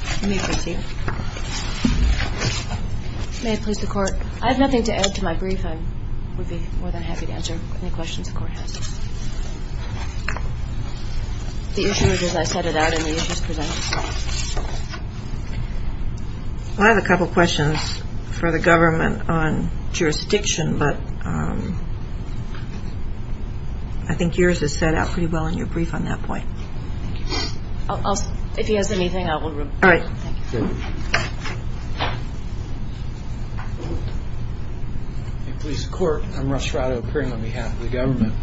May I please the court? I have nothing to add to my brief. I would be more than happy to answer any questions the court has. The issue is as I set it out and the issues presented. I have a couple of questions for the government on jurisdiction, but I think yours is set out pretty well in your brief on that point. If he has anything I will report it. All right, thank you. May I please the court? I'm Russ Rado appearing on behalf of the government.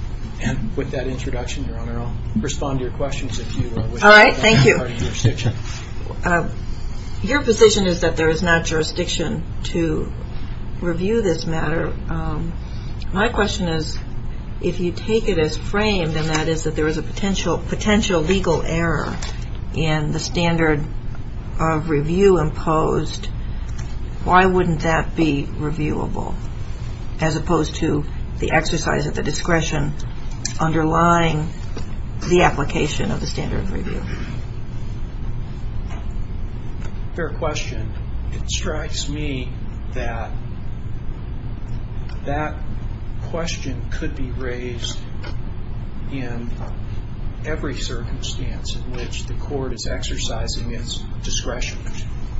And with that introduction, your honor, I'll respond to your questions if you wish. All right, thank you. Your position is that there is not jurisdiction to review this matter. My question is if you take it as framed and that is that there is a potential legal error in the standard of review imposed, why wouldn't that be reviewable as opposed to the exercise of the discretion underlying the application of the standard of review? Fair question. It strikes me that that question could be raised in every circumstance in which the court is exercising its discretion.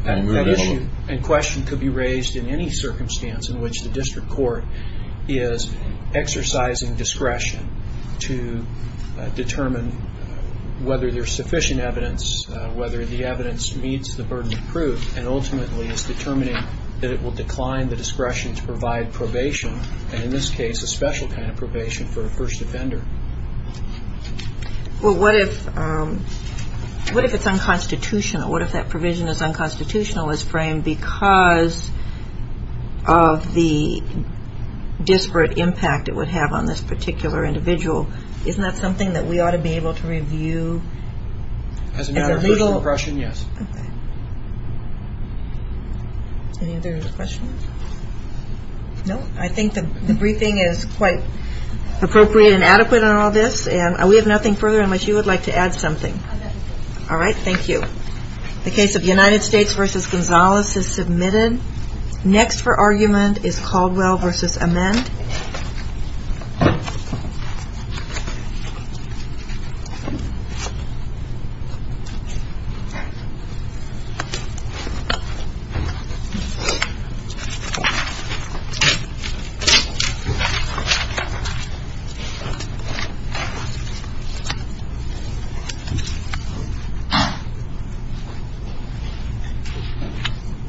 And question could be raised in any circumstance in which the district court is exercising discretion to determine whether there is sufficient evidence, whether the evidence meets the burden of proof, and ultimately is determining that it will decline the discretion to provide probation, and in this case a special kind of probation for a first offender. Well, what if it's unconstitutional? What if that provision is unconstitutional as framed because of the disparate impact it would have on this particular individual? Isn't that something that we ought to be able to review? As a matter of first impression, yes. Any other questions? No? I think the briefing is quite appropriate and adequate on all this. And we have nothing further unless you would like to add something. All right, thank you. The case of United States v. Gonzalez is submitted. Next for argument is Caldwell v. Amend. Thank you.